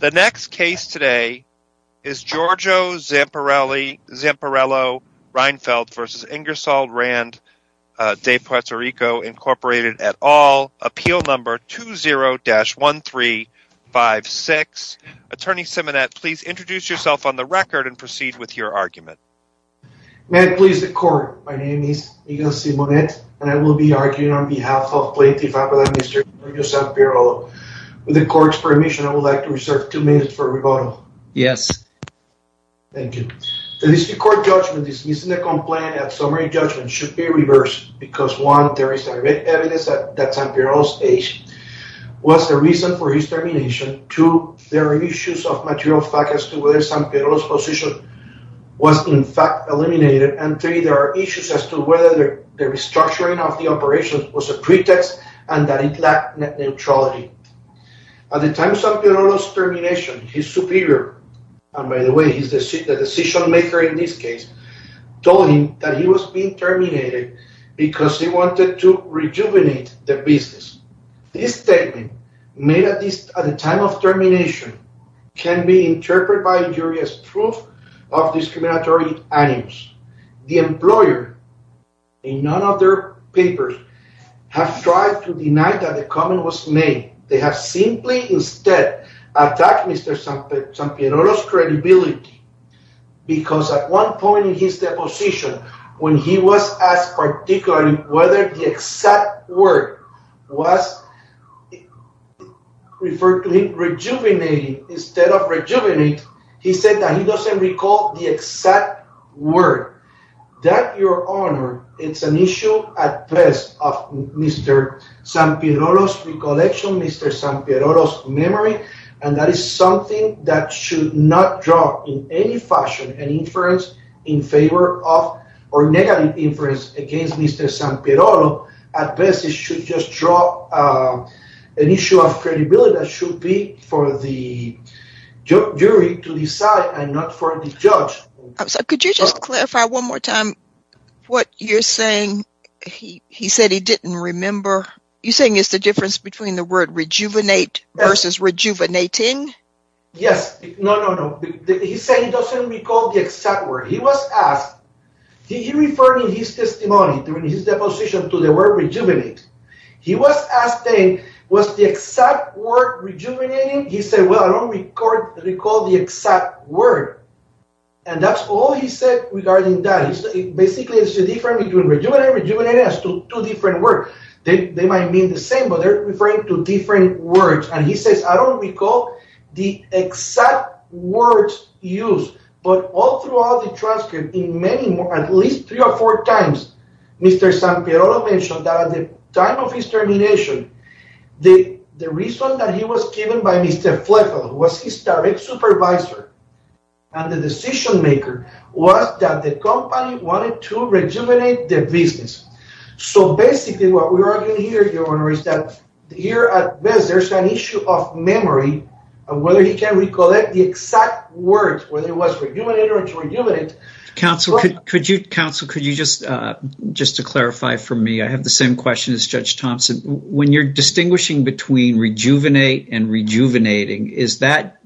The next case today is Giorgio Zamperello-Rheinfeldt v. Ingersoll-Rand de PR, Inc. et al. Appeal No. 20-1356. Attorney Simonet, please introduce yourself on the record and proceed with your argument. May it please the Court, my name is Inger Simonet and I will be arguing on behalf of the District Court. The District Court judgment dismissing the complaint at summary judgment should be reversed because 1. there is direct evidence that Zamperello's age was the reason for his termination, 2. there are issues of material fact as to whether Zamperello's position was in fact eliminated, and 3. there are issues as to whether the restructuring of the operation was a pretext and that it lacked neutrality. At the time of Zamperello's termination, his superior, and by the way he is the decision maker in this case, told him that he was being terminated because he wanted to rejuvenate the business. This statement made at the time of termination can be interpreted by the jury as proof of discriminatory animus. The employer in none of their papers have tried to deny that the comment was made. They have simply instead attacked Mr. Zamperello's credibility because at one point in his deposition when he was asked particularly whether the exact word was referred to him as rejuvenating, instead of rejuvenating, he said that he doesn't recall the exact word. That your honor, it's an issue at best of Mr. Zamperello's recollection, Mr. Zamperello's memory, and that is something that should not draw in any fashion an inference in favor of or negative inference against Mr. Zamperello. At best it should just draw an issue of credibility that should be for the jury to decide and not for the judge. I'm sorry, could you just clarify one more time what you're saying? He said he didn't remember. You're saying it's the difference between the word rejuvenate versus rejuvenating? Yes. No, no, no. He said he doesn't recall the exact word. He was asked, he referred in his exact word rejuvenating. He said, well, I don't recall the exact word. And that's all he said regarding that. Basically, it's the difference between rejuvenating and rejuvenating as two different words. They might mean the same, but they're referring to different words. And he says, I don't recall the exact words used, but all throughout the transcript in many, at least three or four times Mr. Zamperello mentioned that at the time of his termination, the reason that he was given by Mr. Fletcher, who was his direct supervisor and the decision maker, was that the company wanted to rejuvenate the business. So basically what we're arguing here, your honor, is that here at best there's an issue of memory of whether he can recollect the exact words, whether it was rejuvenate or to rejuvenate. Counsel, could you just, just to clarify for me, I have the same question as Judge Thompson. When you're distinguishing between rejuvenate and rejuvenating, is that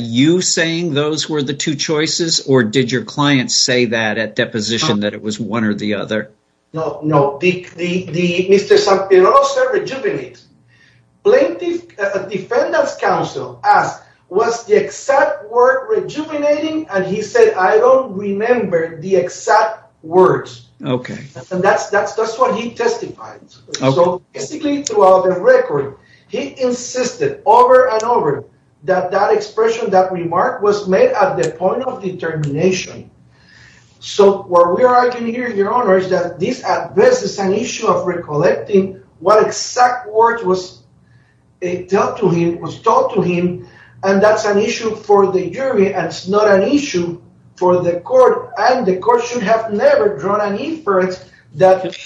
you saying those were the two choices or did your client say that at deposition that it was one or the other? No, no. Mr. Zamperello said rejuvenate. Plaintiff Defendant's Counsel asked, was the exact word rejuvenating? And he said, I don't remember the exact words. Okay. And that's, that's, that's what he testified. So basically throughout the record, he insisted over and over that that expression, that remark was made at the point of determination. So where we are arguing here, your honor, is that this at best is an issue of recollecting what exact words was a dealt to him, was told to him. And that's an issue for the jury. And it's an issue for the court and the court should have never drawn an inference that.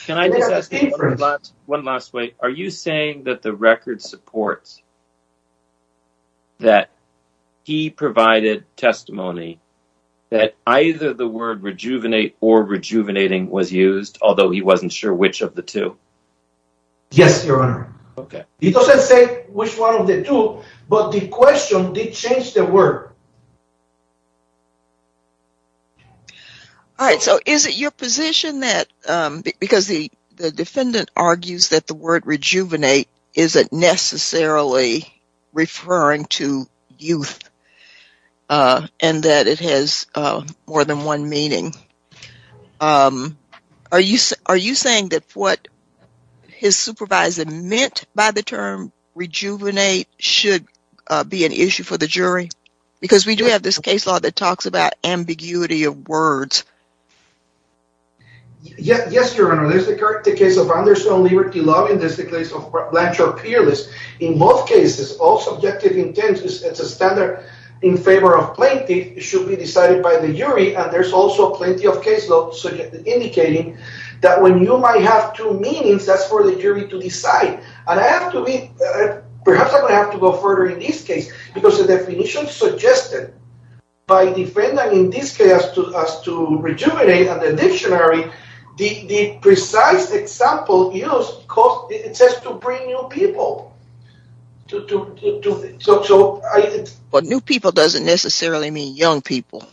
One last way. Are you saying that the record supports that he provided testimony that either the word rejuvenate or rejuvenating was used, although he wasn't sure which of the two? Yes, your honor. He doesn't say which one of the two, but the question did change the word. All right. So is it your position that because the defendant argues that the word rejuvenate isn't necessarily referring to youth and that it has more than one meaning? Are you, are you saying that what his supervisor meant by the term rejuvenate should be an issue for the jury? Because we do have this case law that talks about ambiguity of words. Yes, your honor. There's the case of Anderson Liberty Law and there's the case of Blanchard Peerless. In both cases, all subjective intentions, it's a standard in favor of plaintiff should be decided by the jury. And there's also plenty of case law indicating that when you might have two meanings, that's for the jury to decide. And I have to be, perhaps I'm going to have to go further in this case because the definition suggested by defendant in this case as to rejuvenate and the dictionary, the precise example used, it says to bring new people. But new people doesn't necessarily mean young people.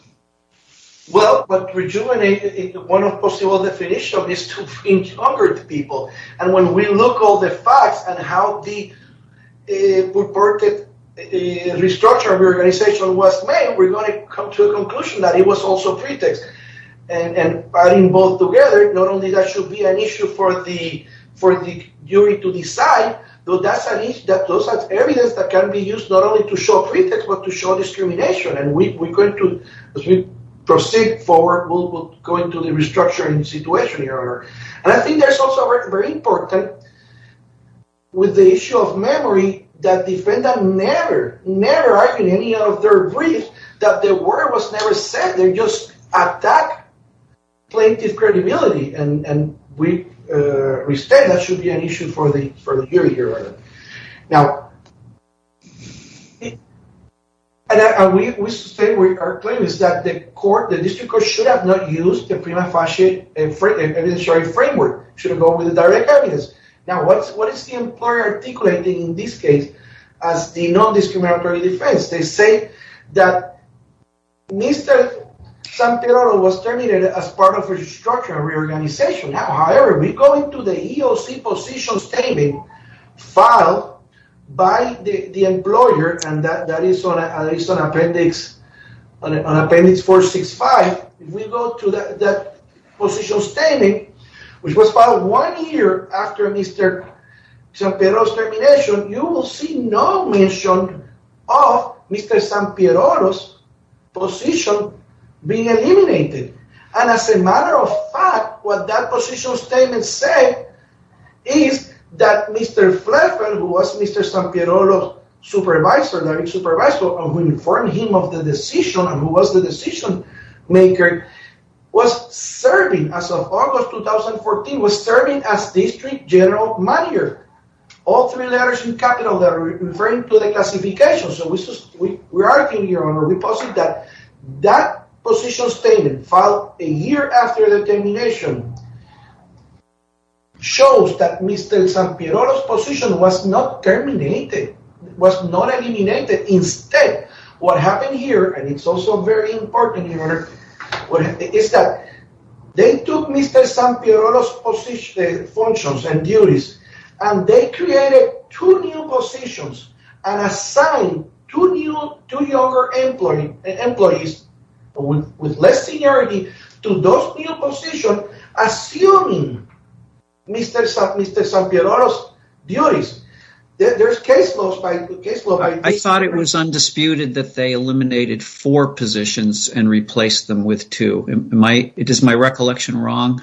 Well, but rejuvenate, one of possible definition is to bring younger people. And when we look at the facts and how the purported restructure of the organization was made, we're going to come to a conclusion that it was also pretext. And adding both together, not only that should be an issue for the jury to decide, but that's evidence that can be used not only to show pretext but to show discrimination. And we're going to, as we proceed forward, we'll go into restructuring situation. And I think that's also very important with the issue of memory that defendants never, never argue in any of their briefs that the word was never said. They just attack plaintiff credibility. And we respect that should be an issue for the jury here. Now, we say our claim is that the court, the district court should have not used the prima facie evidence sharing framework. It should have gone with the direct evidence. Now, what is the employer articulating in this case as the non-discriminatory defense? They say that Mr. Santelaro was terminated as part of restructuring and reorganization. However, we go into the EOC position statement filed by the employer, and that is on appendix 465. If we go to that position statement, which was filed one year after Mr. Santelaro's termination, you will see no mention of Mr. Santelaro's position being eliminated. And as a matter of fact, what that position statement said is that Mr. Fletcher, who was Mr. Santelaro's supervisor, learning supervisor, who informed him of the decision and who was the decision-maker, was serving as of August 2014, was serving as district general manager. All three letters in capital that are referring to the classification. So we're arguing here, Honor, we posit that that position statement filed a year after the termination shows that Mr. Santelaro's position was not terminated, was not eliminated. Instead, what happened here, and it's also very important, is that they took Mr. Santelaro's functions and with less seniority to those new positions, assuming Mr. Santelaro's duties. There's case laws. I thought it was undisputed that they eliminated four positions and replaced them with two. It is my recollection wrong?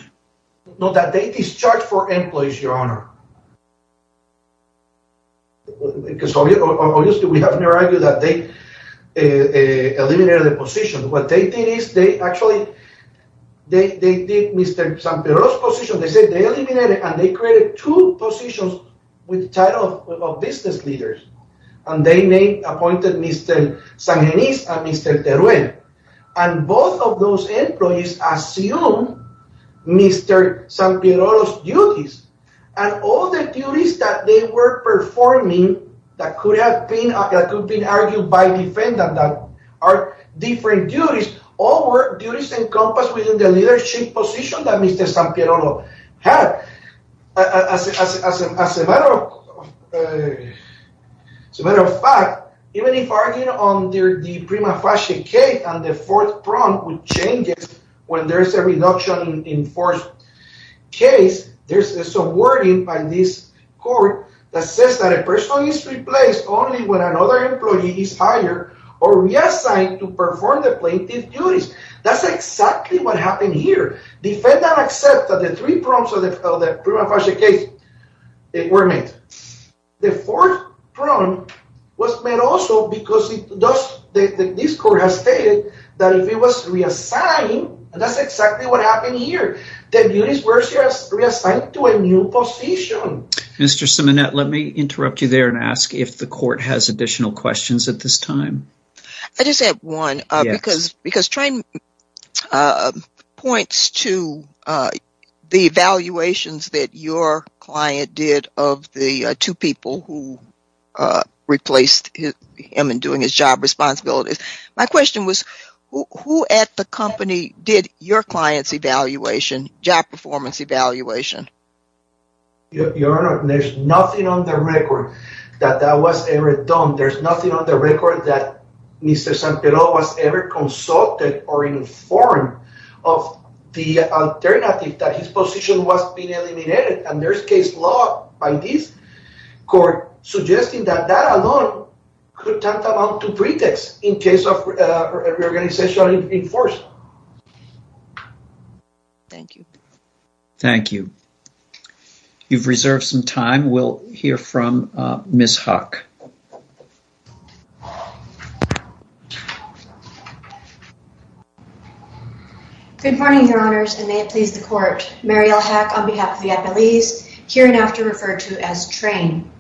No, that they discharged four employees, Your Honor. Obviously, we have to argue that they eliminated the position. What they did is, they actually, they did Mr. Santelaro's position. They said they eliminated and they created two positions with the title of business leaders. And they named, appointed Mr. Sangenis and Mr. Teruel. And both of those employees assumed Mr. Santelaro's duties. And all the duties that they were performing that could have been argued by defendant that are different duties, all were duties encompassed within the leadership position that Mr. Santelaro had. As a matter of fact, even if arguing on the prima facie case and the fourth prompt changes when there's a reduction in forced case, there's some wording by this court that says that a person is replaced only when another employee is hired or reassigned to perform the plaintiff duties. That's exactly what happened here. Defendant accepts that the three prompts of the prima facie case were made. The fourth prompt was made also because this court has stated that if he was reassigned, and that's exactly what happened here, the duties were reassigned to a new position. Mr. Simonette, let me interrupt you there and ask if the court has additional questions at this time. I just have one because Trine points to the evaluations that your client did of the two people who replaced him in doing his job responsibilities. My question was, who at the company did your client's evaluation, job performance evaluation? Your Honor, there's nothing on the record that that was ever done. There's nothing on the record that Mr. Santelaro was ever consulted or informed of the alternative that his position was being eliminated. There's case law by this court suggesting that that alone could talk about two pretexts in case of reorganization in force. Thank you. Thank you. You've reserved some time. We'll hear from Ms. Huck. Good morning, Your Honors, and may it please the court. Mariel Huck on behalf of the appellees, here and after referred to as Trine.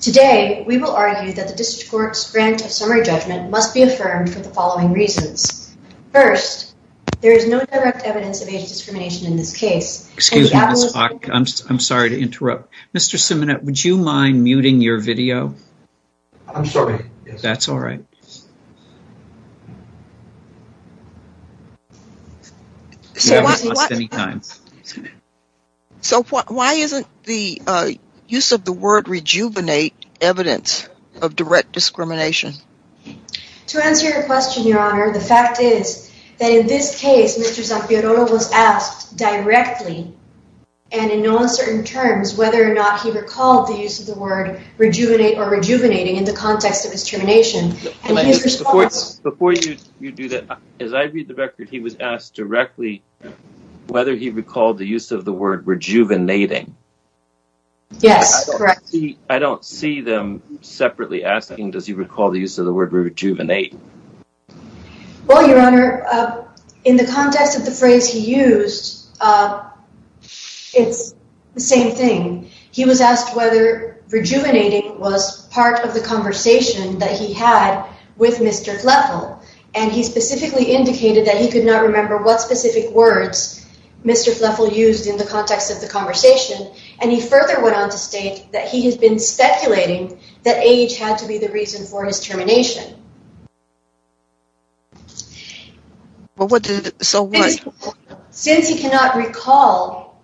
Today, we will argue that the district court's grant of summary judgment must be affirmed for the following reasons. First, there is no direct evidence of age discrimination in this case. Excuse me, Ms. Huck. I'm sorry to interrupt. Mr. Simonet, would you mind muting your video? I'm sorry. That's all right. So why isn't the use of the word rejuvenate evidence of direct discrimination? To answer your question, Your Honor, the fact is that in this case, Mr. Santelaro was asked directly and in no uncertain terms whether or not he recalled the use of the word rejuvenate or rejuvenating in the context of his termination. Before you do that, as I read the record, he was asked directly whether he recalled the use of the word rejuvenating. Yes, correct. I don't see them separately asking, does he recall the use of the word rejuvenate? Well, Your Honor, in the context of the phrase he used, it's the same thing. He was asked whether rejuvenating was part of the conversation that he had with Mr. Fleffel, and he specifically indicated that he could not remember what specific words Mr. Fleffel used in the context of the conversation, and he further went on to state that he has been speculating that age had to be reason for his termination. So what? Since he cannot recall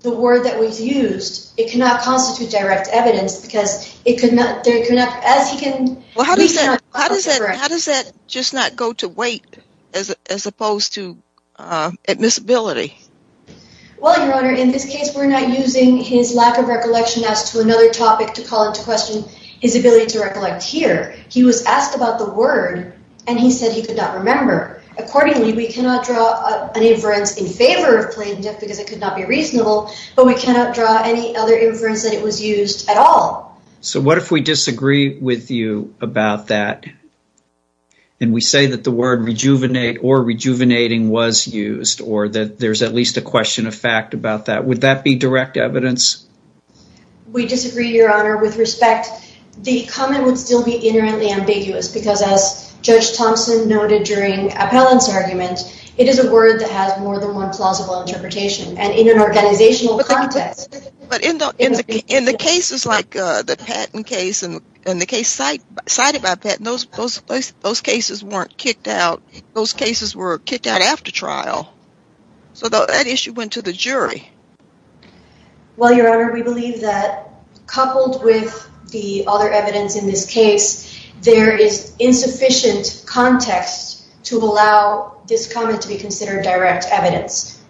the word that was used, it cannot constitute direct evidence because it could not, as he can... Well, how does that just not go to weight as opposed to admissibility? Well, Your Honor, in this case, we're not using his lack of recollection as to another topic to call into question his ability to recollect here. He was asked about the word, and he said he could not remember. Accordingly, we cannot draw an inference in favor of plaintiff because it could not be reasonable, but we cannot draw any other inference that it was used at all. So what if we disagree with you about that, and we say that the word rejuvenate or rejuvenating was used, or that there's at least a question of fact about that, would that be direct evidence? We disagree, Your Honor. With respect, the comment would still be inherently ambiguous because, as Judge Thompson noted during Appellant's argument, it is a word that has more than one plausible interpretation, and in an organizational context... But in the cases like the Patton case and the case cited by Patton, those cases weren't kicked out. Those cases were kicked out after trial, so that issue went to the jury. Well, Your Honor, we believe that coupled with the other evidence in this case, there is insufficient context to allow this comment to be considered direct evidence,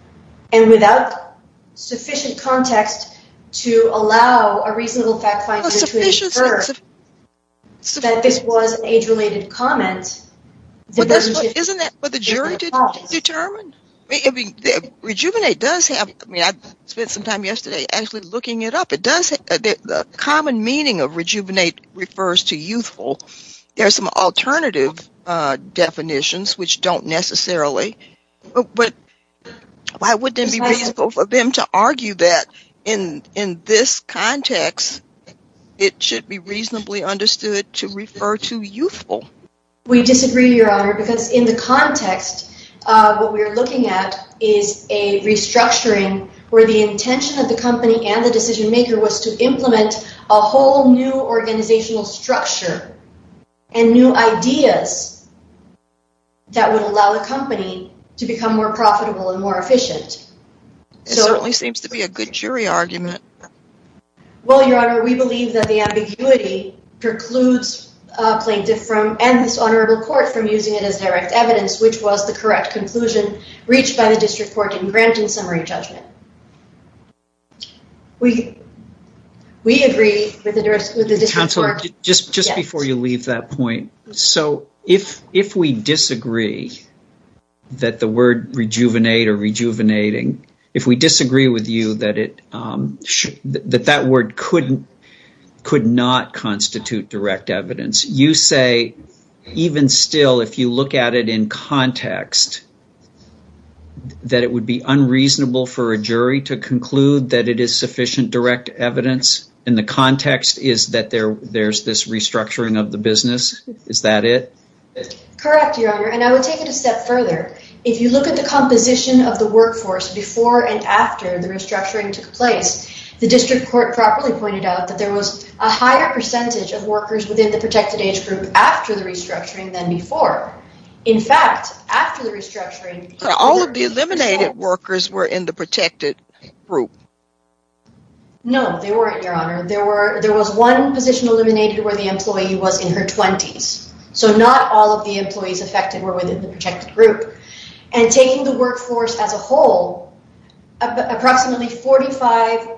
and without sufficient context to allow a reasonable fact finder to infer that this was an age-related comment... Isn't that what the jury determined? Rejuvenate does have... I mean, I spent some time yesterday actually looking it up. The common meaning of rejuvenate refers to youthful. There are some alternative definitions which don't necessarily, but why wouldn't it be reasonable for them to argue that in this context, it should be reasonably understood to refer to youthful? We disagree, Your Honor, because in the context, what we're looking at is a restructuring where the intention of the company and the decision maker was to implement a whole new organizational structure and new ideas that would allow the company to become more profitable and more efficient. It certainly seems to be a good jury argument. Well, Your Honor, we believe that the ambiguity precludes a plaintiff and this honorable court from using it as direct evidence, which was the correct conclusion reached by the district court in granting summary judgment. We agree with the district court... Counselor, just before you leave that point, so if we disagree that the word rejuvenate or rejuvenating, if we disagree with you that that word could not constitute direct evidence, you say even still, if you look at it in context, that it would be unreasonable for a jury to conclude that it is sufficient direct evidence in the context is that there's this restructuring of the business. Is that it? Correct, Your Honor. I would take it a step further. If you look at the composition of the district court properly pointed out that there was a higher percentage of workers within the protected age group after the restructuring than before. In fact, after the restructuring... All of the eliminated workers were in the protected group. No, they weren't, Your Honor. There was one position eliminated where the employee was in her 20s. So not all of the employees affected were within the protected group. And taking the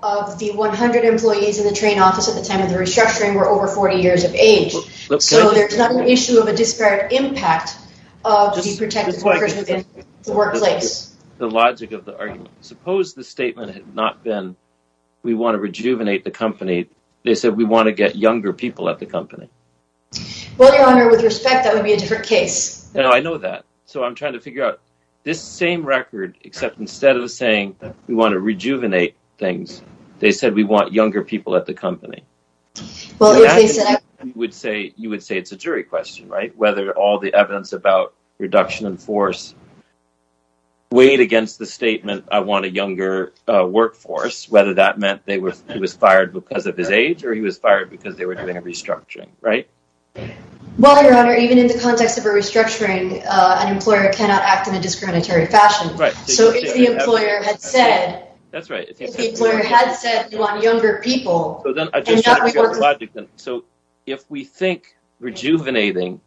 of the 100 employees in the train office at the time of the restructuring were over 40 years of age. So there's not an issue of a disparate impact of the protected workers within the workplace. The logic of the argument. Suppose the statement had not been, we want to rejuvenate the company. They said, we want to get younger people at the company. Well, Your Honor, with respect, that would be a different case. No, I know that. So I'm trying to figure out this same record, except instead of saying we want to rejuvenate things, they said, we want younger people at the company. You would say it's a jury question, right? Whether all the evidence about reduction in force weighed against the statement, I want a younger workforce, whether that meant he was fired because of his age or he was fired because they were doing a restructuring, right? Well, Your Honor, even in the context of a restructuring, an employer cannot act in a way that would be in the interest of the company. So if the employer had said, if the employer had said, we want younger people. So if we think rejuvenating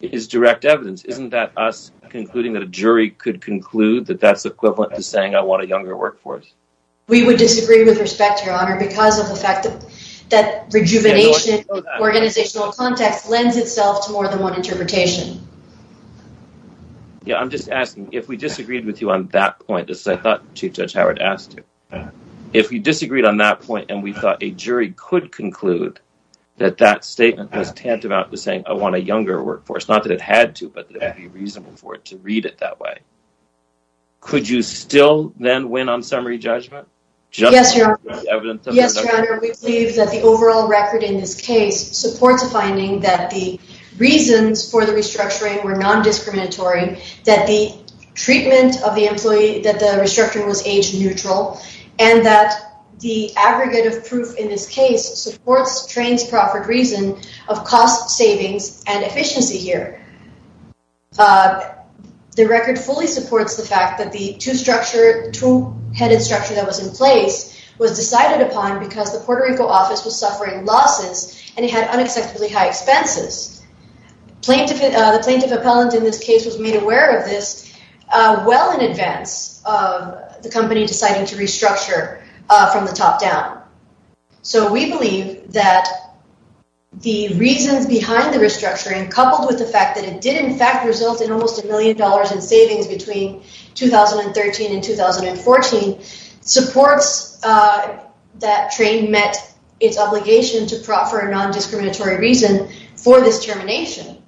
is direct evidence, isn't that us concluding that a jury could conclude that that's equivalent to saying, I want a younger workforce? We would disagree with respect, Your Honor, because of the fact that rejuvenation organizational context lends itself to more than one interpretation. Yeah, I'm just asking if we disagreed with you on that point, as I thought Chief Judge Howard asked you, if we disagreed on that point and we thought a jury could conclude that that statement was tantamount to saying, I want a younger workforce, not that it had to, but it would be reasonable for it to read it that way. Could you still then win on summary judgment? Yes, Your Honor, we believe that the overall record in this case supports a finding that the reasons for the restructuring were non-discriminatory, that the treatment of the employee, that the restructuring was age neutral, and that the aggregate of proof in this case supports train's proffered reason of cost savings and efficiency here. The record fully supports the fact that the two-headed structure that was in place was decided upon because the Puerto Rico office was suffering losses and it had unacceptably high expenses. The plaintiff appellant in this case was made aware of this well in advance of the company deciding to restructure from the top down. So we believe that the reasons behind the restructuring coupled with the fact that it did in fact result in almost a million dollars in savings between 2013 and 2014 supports that train met its obligation to proffer a non-discriminatory reason for this termination.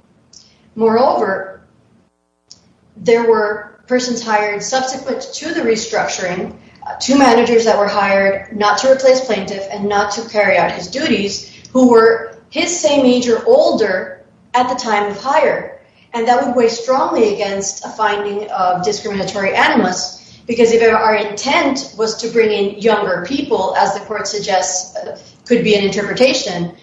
Moreover, there were persons hired subsequent to the restructuring, two managers that were hired not to replace plaintiff and not to carry out his duties, who were his same age or older at the time of hire, and that would weigh strongly against a finding of discriminatory animus because if our intent was to bring in younger people, as the court suggests could be an interpretation,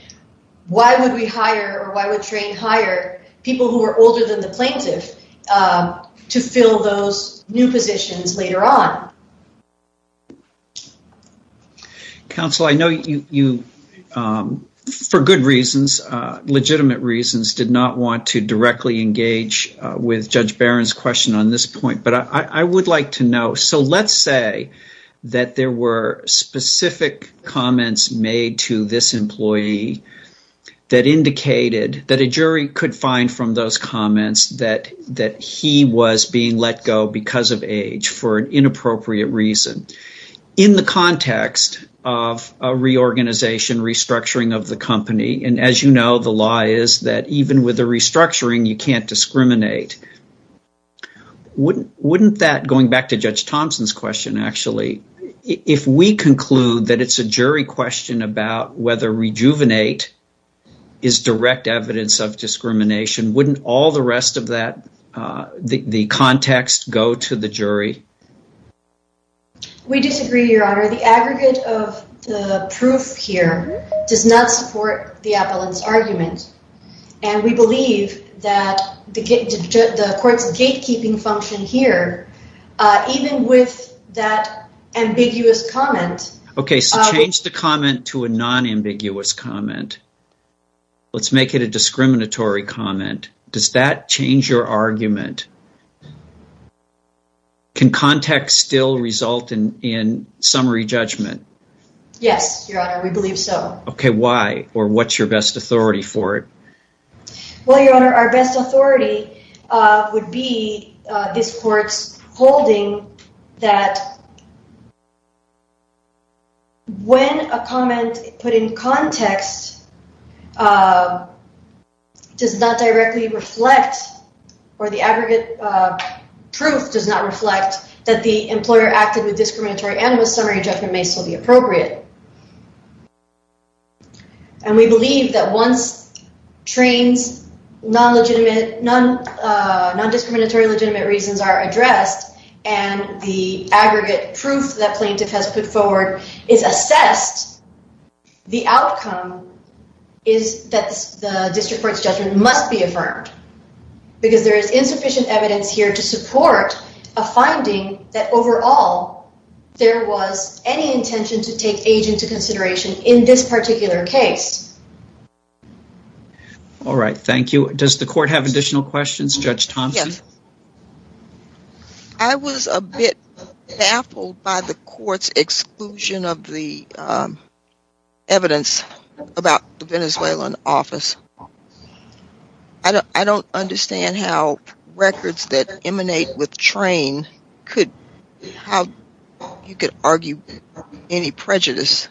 why would we hire or why would train hire people who were older than the plaintiff to fill those new positions later on? Counsel, I know you, for good reasons, legitimate reasons, did not want to directly engage with Judge Barron's question on this point, but I would like to know. So let's say that there were specific comments made to this employee that indicated that a jury could find from those comments that he was being let go because of age for an inappropriate reason. In the context of a reorganization, restructuring of the company, and as you know, the law is that even with a restructuring, you can't discriminate. Wouldn't that, going back to Judge Thompson's question, actually, if we conclude that it's a jury question about whether rejuvenate is direct evidence of discrimination, wouldn't all the rest of that, the context, go to the jury? We disagree, Your Honor. The aggregate of the proof here does not support the appellant's that the court's gatekeeping function here, even with that ambiguous comment. Okay, so change the comment to a non-ambiguous comment. Let's make it a discriminatory comment. Does that change your argument? Can context still result in summary judgment? Yes, Your Honor, we believe so. Okay, why? Or what's your best authority for it? Well, Your Honor, our best authority would be this court's holding that when a comment put in context does not directly reflect, or the aggregate proof does not reflect, that the employer acted with discriminatory and with summary judgment may still be appropriate. And we believe that once trains, non-legitimate, non-discriminatory legitimate reasons are addressed, and the aggregate proof that plaintiff has put forward is assessed, the outcome is that the district court's judgment must be affirmed, because there is insufficient evidence here to support a finding that overall there was any intention to take age into consideration in this particular case. All right, thank you. Does the court have additional questions? Judge Thompson? I was a bit baffled by the court's exclusion of the evidence about the Venezuelan office. I don't understand how records that emanate with train could, how you could argue any prejudice.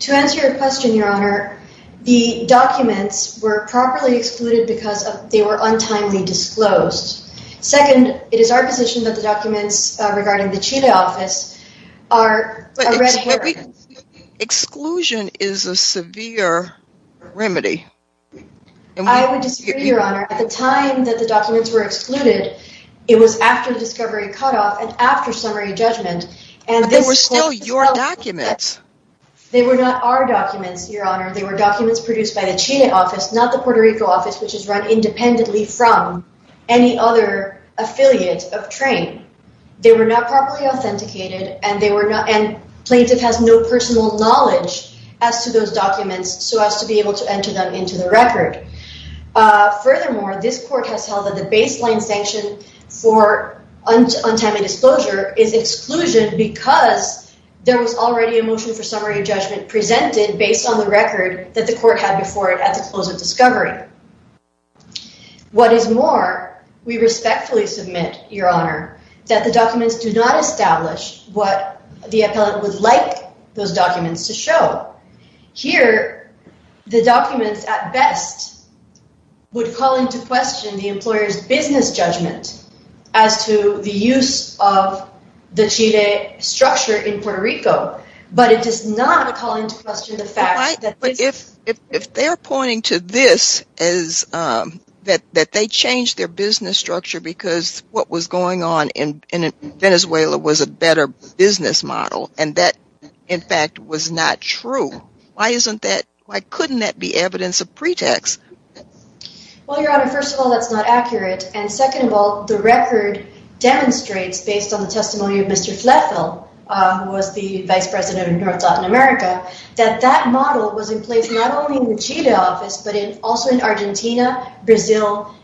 To answer your question, Your Honor, the documents were properly excluded because they were untimely disclosed. Second, it is our position that the documents regarding the Chile office are a red herring. Exclusion is a severe remedy. I would disagree, Your Honor. At the time that the documents were excluded, it was after the discovery cutoff and after summary judgment. But they were still your documents. They were not our documents, Your Honor. They were documents produced by the Chile office, not the Puerto Rico office, which is run independently from any other affiliate of train. They were not properly authenticated, and they were not, and plaintiff has no personal knowledge as to those documents, so as to be able to enter them into the record. Furthermore, this court has held that the baseline sanction for untimely disclosure is exclusion because there was already a motion for summary judgment presented based on the record that the court had before it at the close of discovery. What is more, we respectfully submit, Your Honor, that the documents do not establish what the appellant would like those documents to show. Here, the documents at best would call into question the employer's business judgment as to the use of the Chile structure in Puerto Rico, but it does not call into question the if they are pointing to this as that they changed their business structure because what was going on in Venezuela was a better business model, and that, in fact, was not true. Why isn't that, why couldn't that be evidence of pretext? Well, Your Honor, first of all, that's not accurate, and second of all, the record demonstrates based on the testimony of Mr. that that model was in place not only in the Chile office, but also in Argentina, Brazil,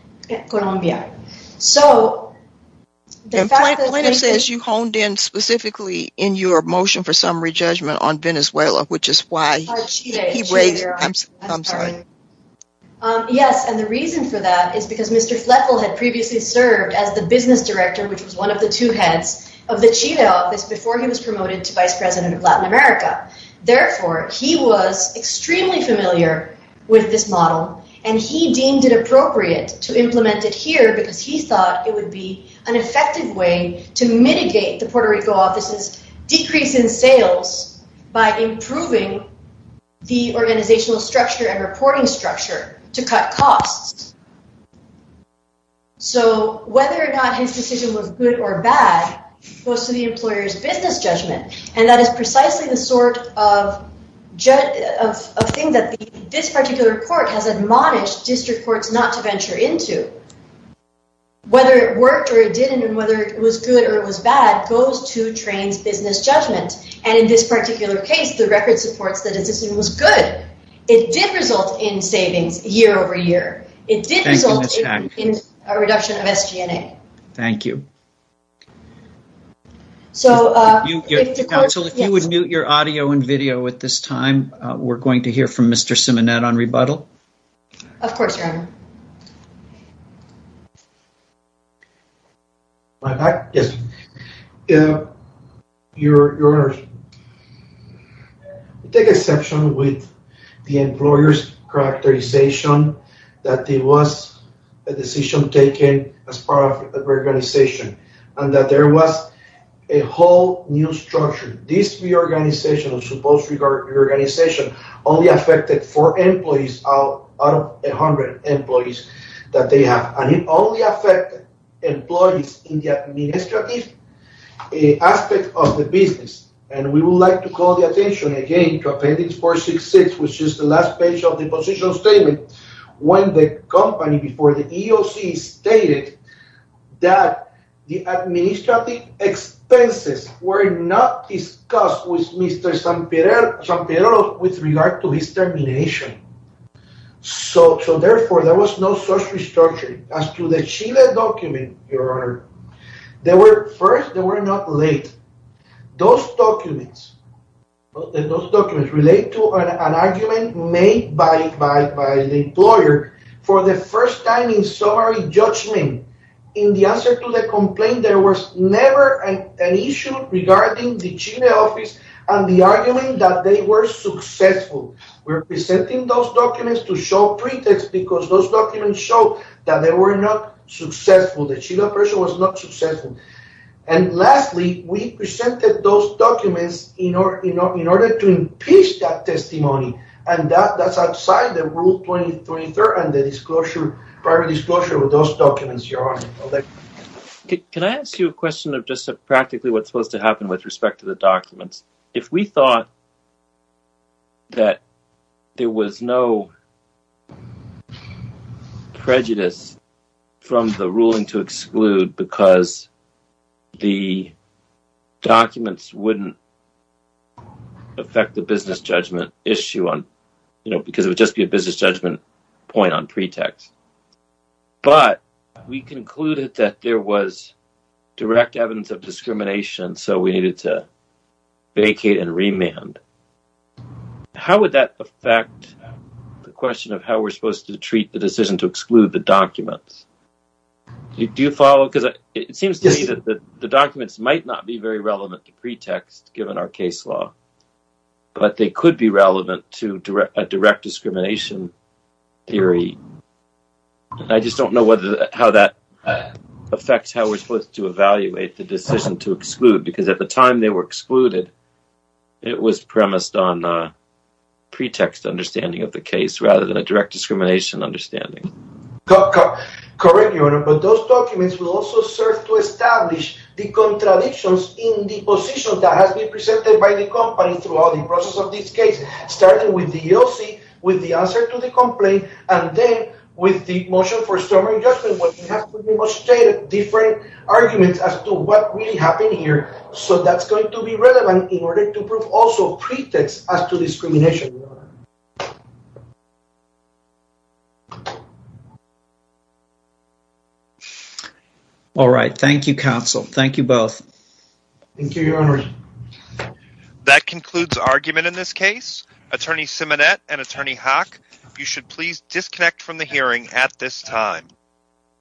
Colombia. So, the fact that says you honed in specifically in your motion for summary judgment on Venezuela, which is why he weighs, I'm sorry. Yes, and the reason for that is because Mr. Fletwell had previously served as the business director, which was one of the two heads of the office before he was promoted to vice president of Latin America. Therefore, he was extremely familiar with this model, and he deemed it appropriate to implement it here because he thought it would be an effective way to mitigate the Puerto Rico office's decrease in sales by improving the organizational structure and reporting structure to cut costs. So, whether or not his decision was good or bad goes to the employer's business judgment, and that is precisely the sort of thing that this particular court has admonished district courts not to venture into. Whether it worked or it didn't, and whether it was good or it was bad, goes to Trane's business judgment, and in this particular case, the record supports that his in savings year over year. It did result in a reduction of SG&A. Thank you. So, if you would mute your audio and video at this time, we're going to hear from Mr. Simonet on rebuttal. Of course, Your Honor. My back? Yes. Your Honor, we take exception with the employer's characterization that it was a decision taken as part of reorganization, and that there was a whole new structure. This reorganization of supposed reorganization only affected four employees out of 100 employees that they have, and it only affected employees in the administrative aspect of the business, and we would like to call the attention again to Appendix 466, which is the last page of the position statement, when the company before the EOC stated that the administrative expenses were not discussed with Mr. Sampiero with regard to his termination. So, therefore, there was no restructuring. As to the Chile document, Your Honor, first, they were not late. Those documents relate to an argument made by the employer for the first time in summary judgment. In the answer to the complaint, there was never an issue regarding the Chile office and the argument that they were successful. We're presenting those documents to show pretext because those documents show that they were not successful. The Chile operation was not successful. And lastly, we presented those documents in order to impeach that testimony, and that's outside the Rule 233 and the private disclosure of those documents, Your Honor. Can I ask you a question of just practically what's supposed to happen with respect to the documents? If we thought that there was no prejudice from the ruling to exclude because the documents wouldn't affect the business judgment issue, because it would just be a business judgment point on pretext, but we concluded that there was direct evidence of discrimination, so we needed to vacate and remand, how would that the documents? Do you follow? Because it seems to me that the documents might not be very relevant to pretext given our case law, but they could be relevant to a direct discrimination theory. I just don't know how that affects how we're supposed to evaluate the decision to exclude because at the time they were excluded, it was premised on a pretext understanding of the case rather than a direct discrimination understanding. Correct, Your Honor, but those documents will also serve to establish the contradictions in the position that has been presented by the company throughout the process of this case, starting with the EOC, with the answer to the complaint, and then with the motion for summary judgment, which has demonstrated different arguments as to what really happened here, so that's going to be relevant in order to prove also pretext as to discrimination. All right, thank you, counsel. Thank you both. Thank you, Your Honor. That concludes argument in this case. Attorney Simonette and Attorney Haack, you should please disconnect from the hearing at this time.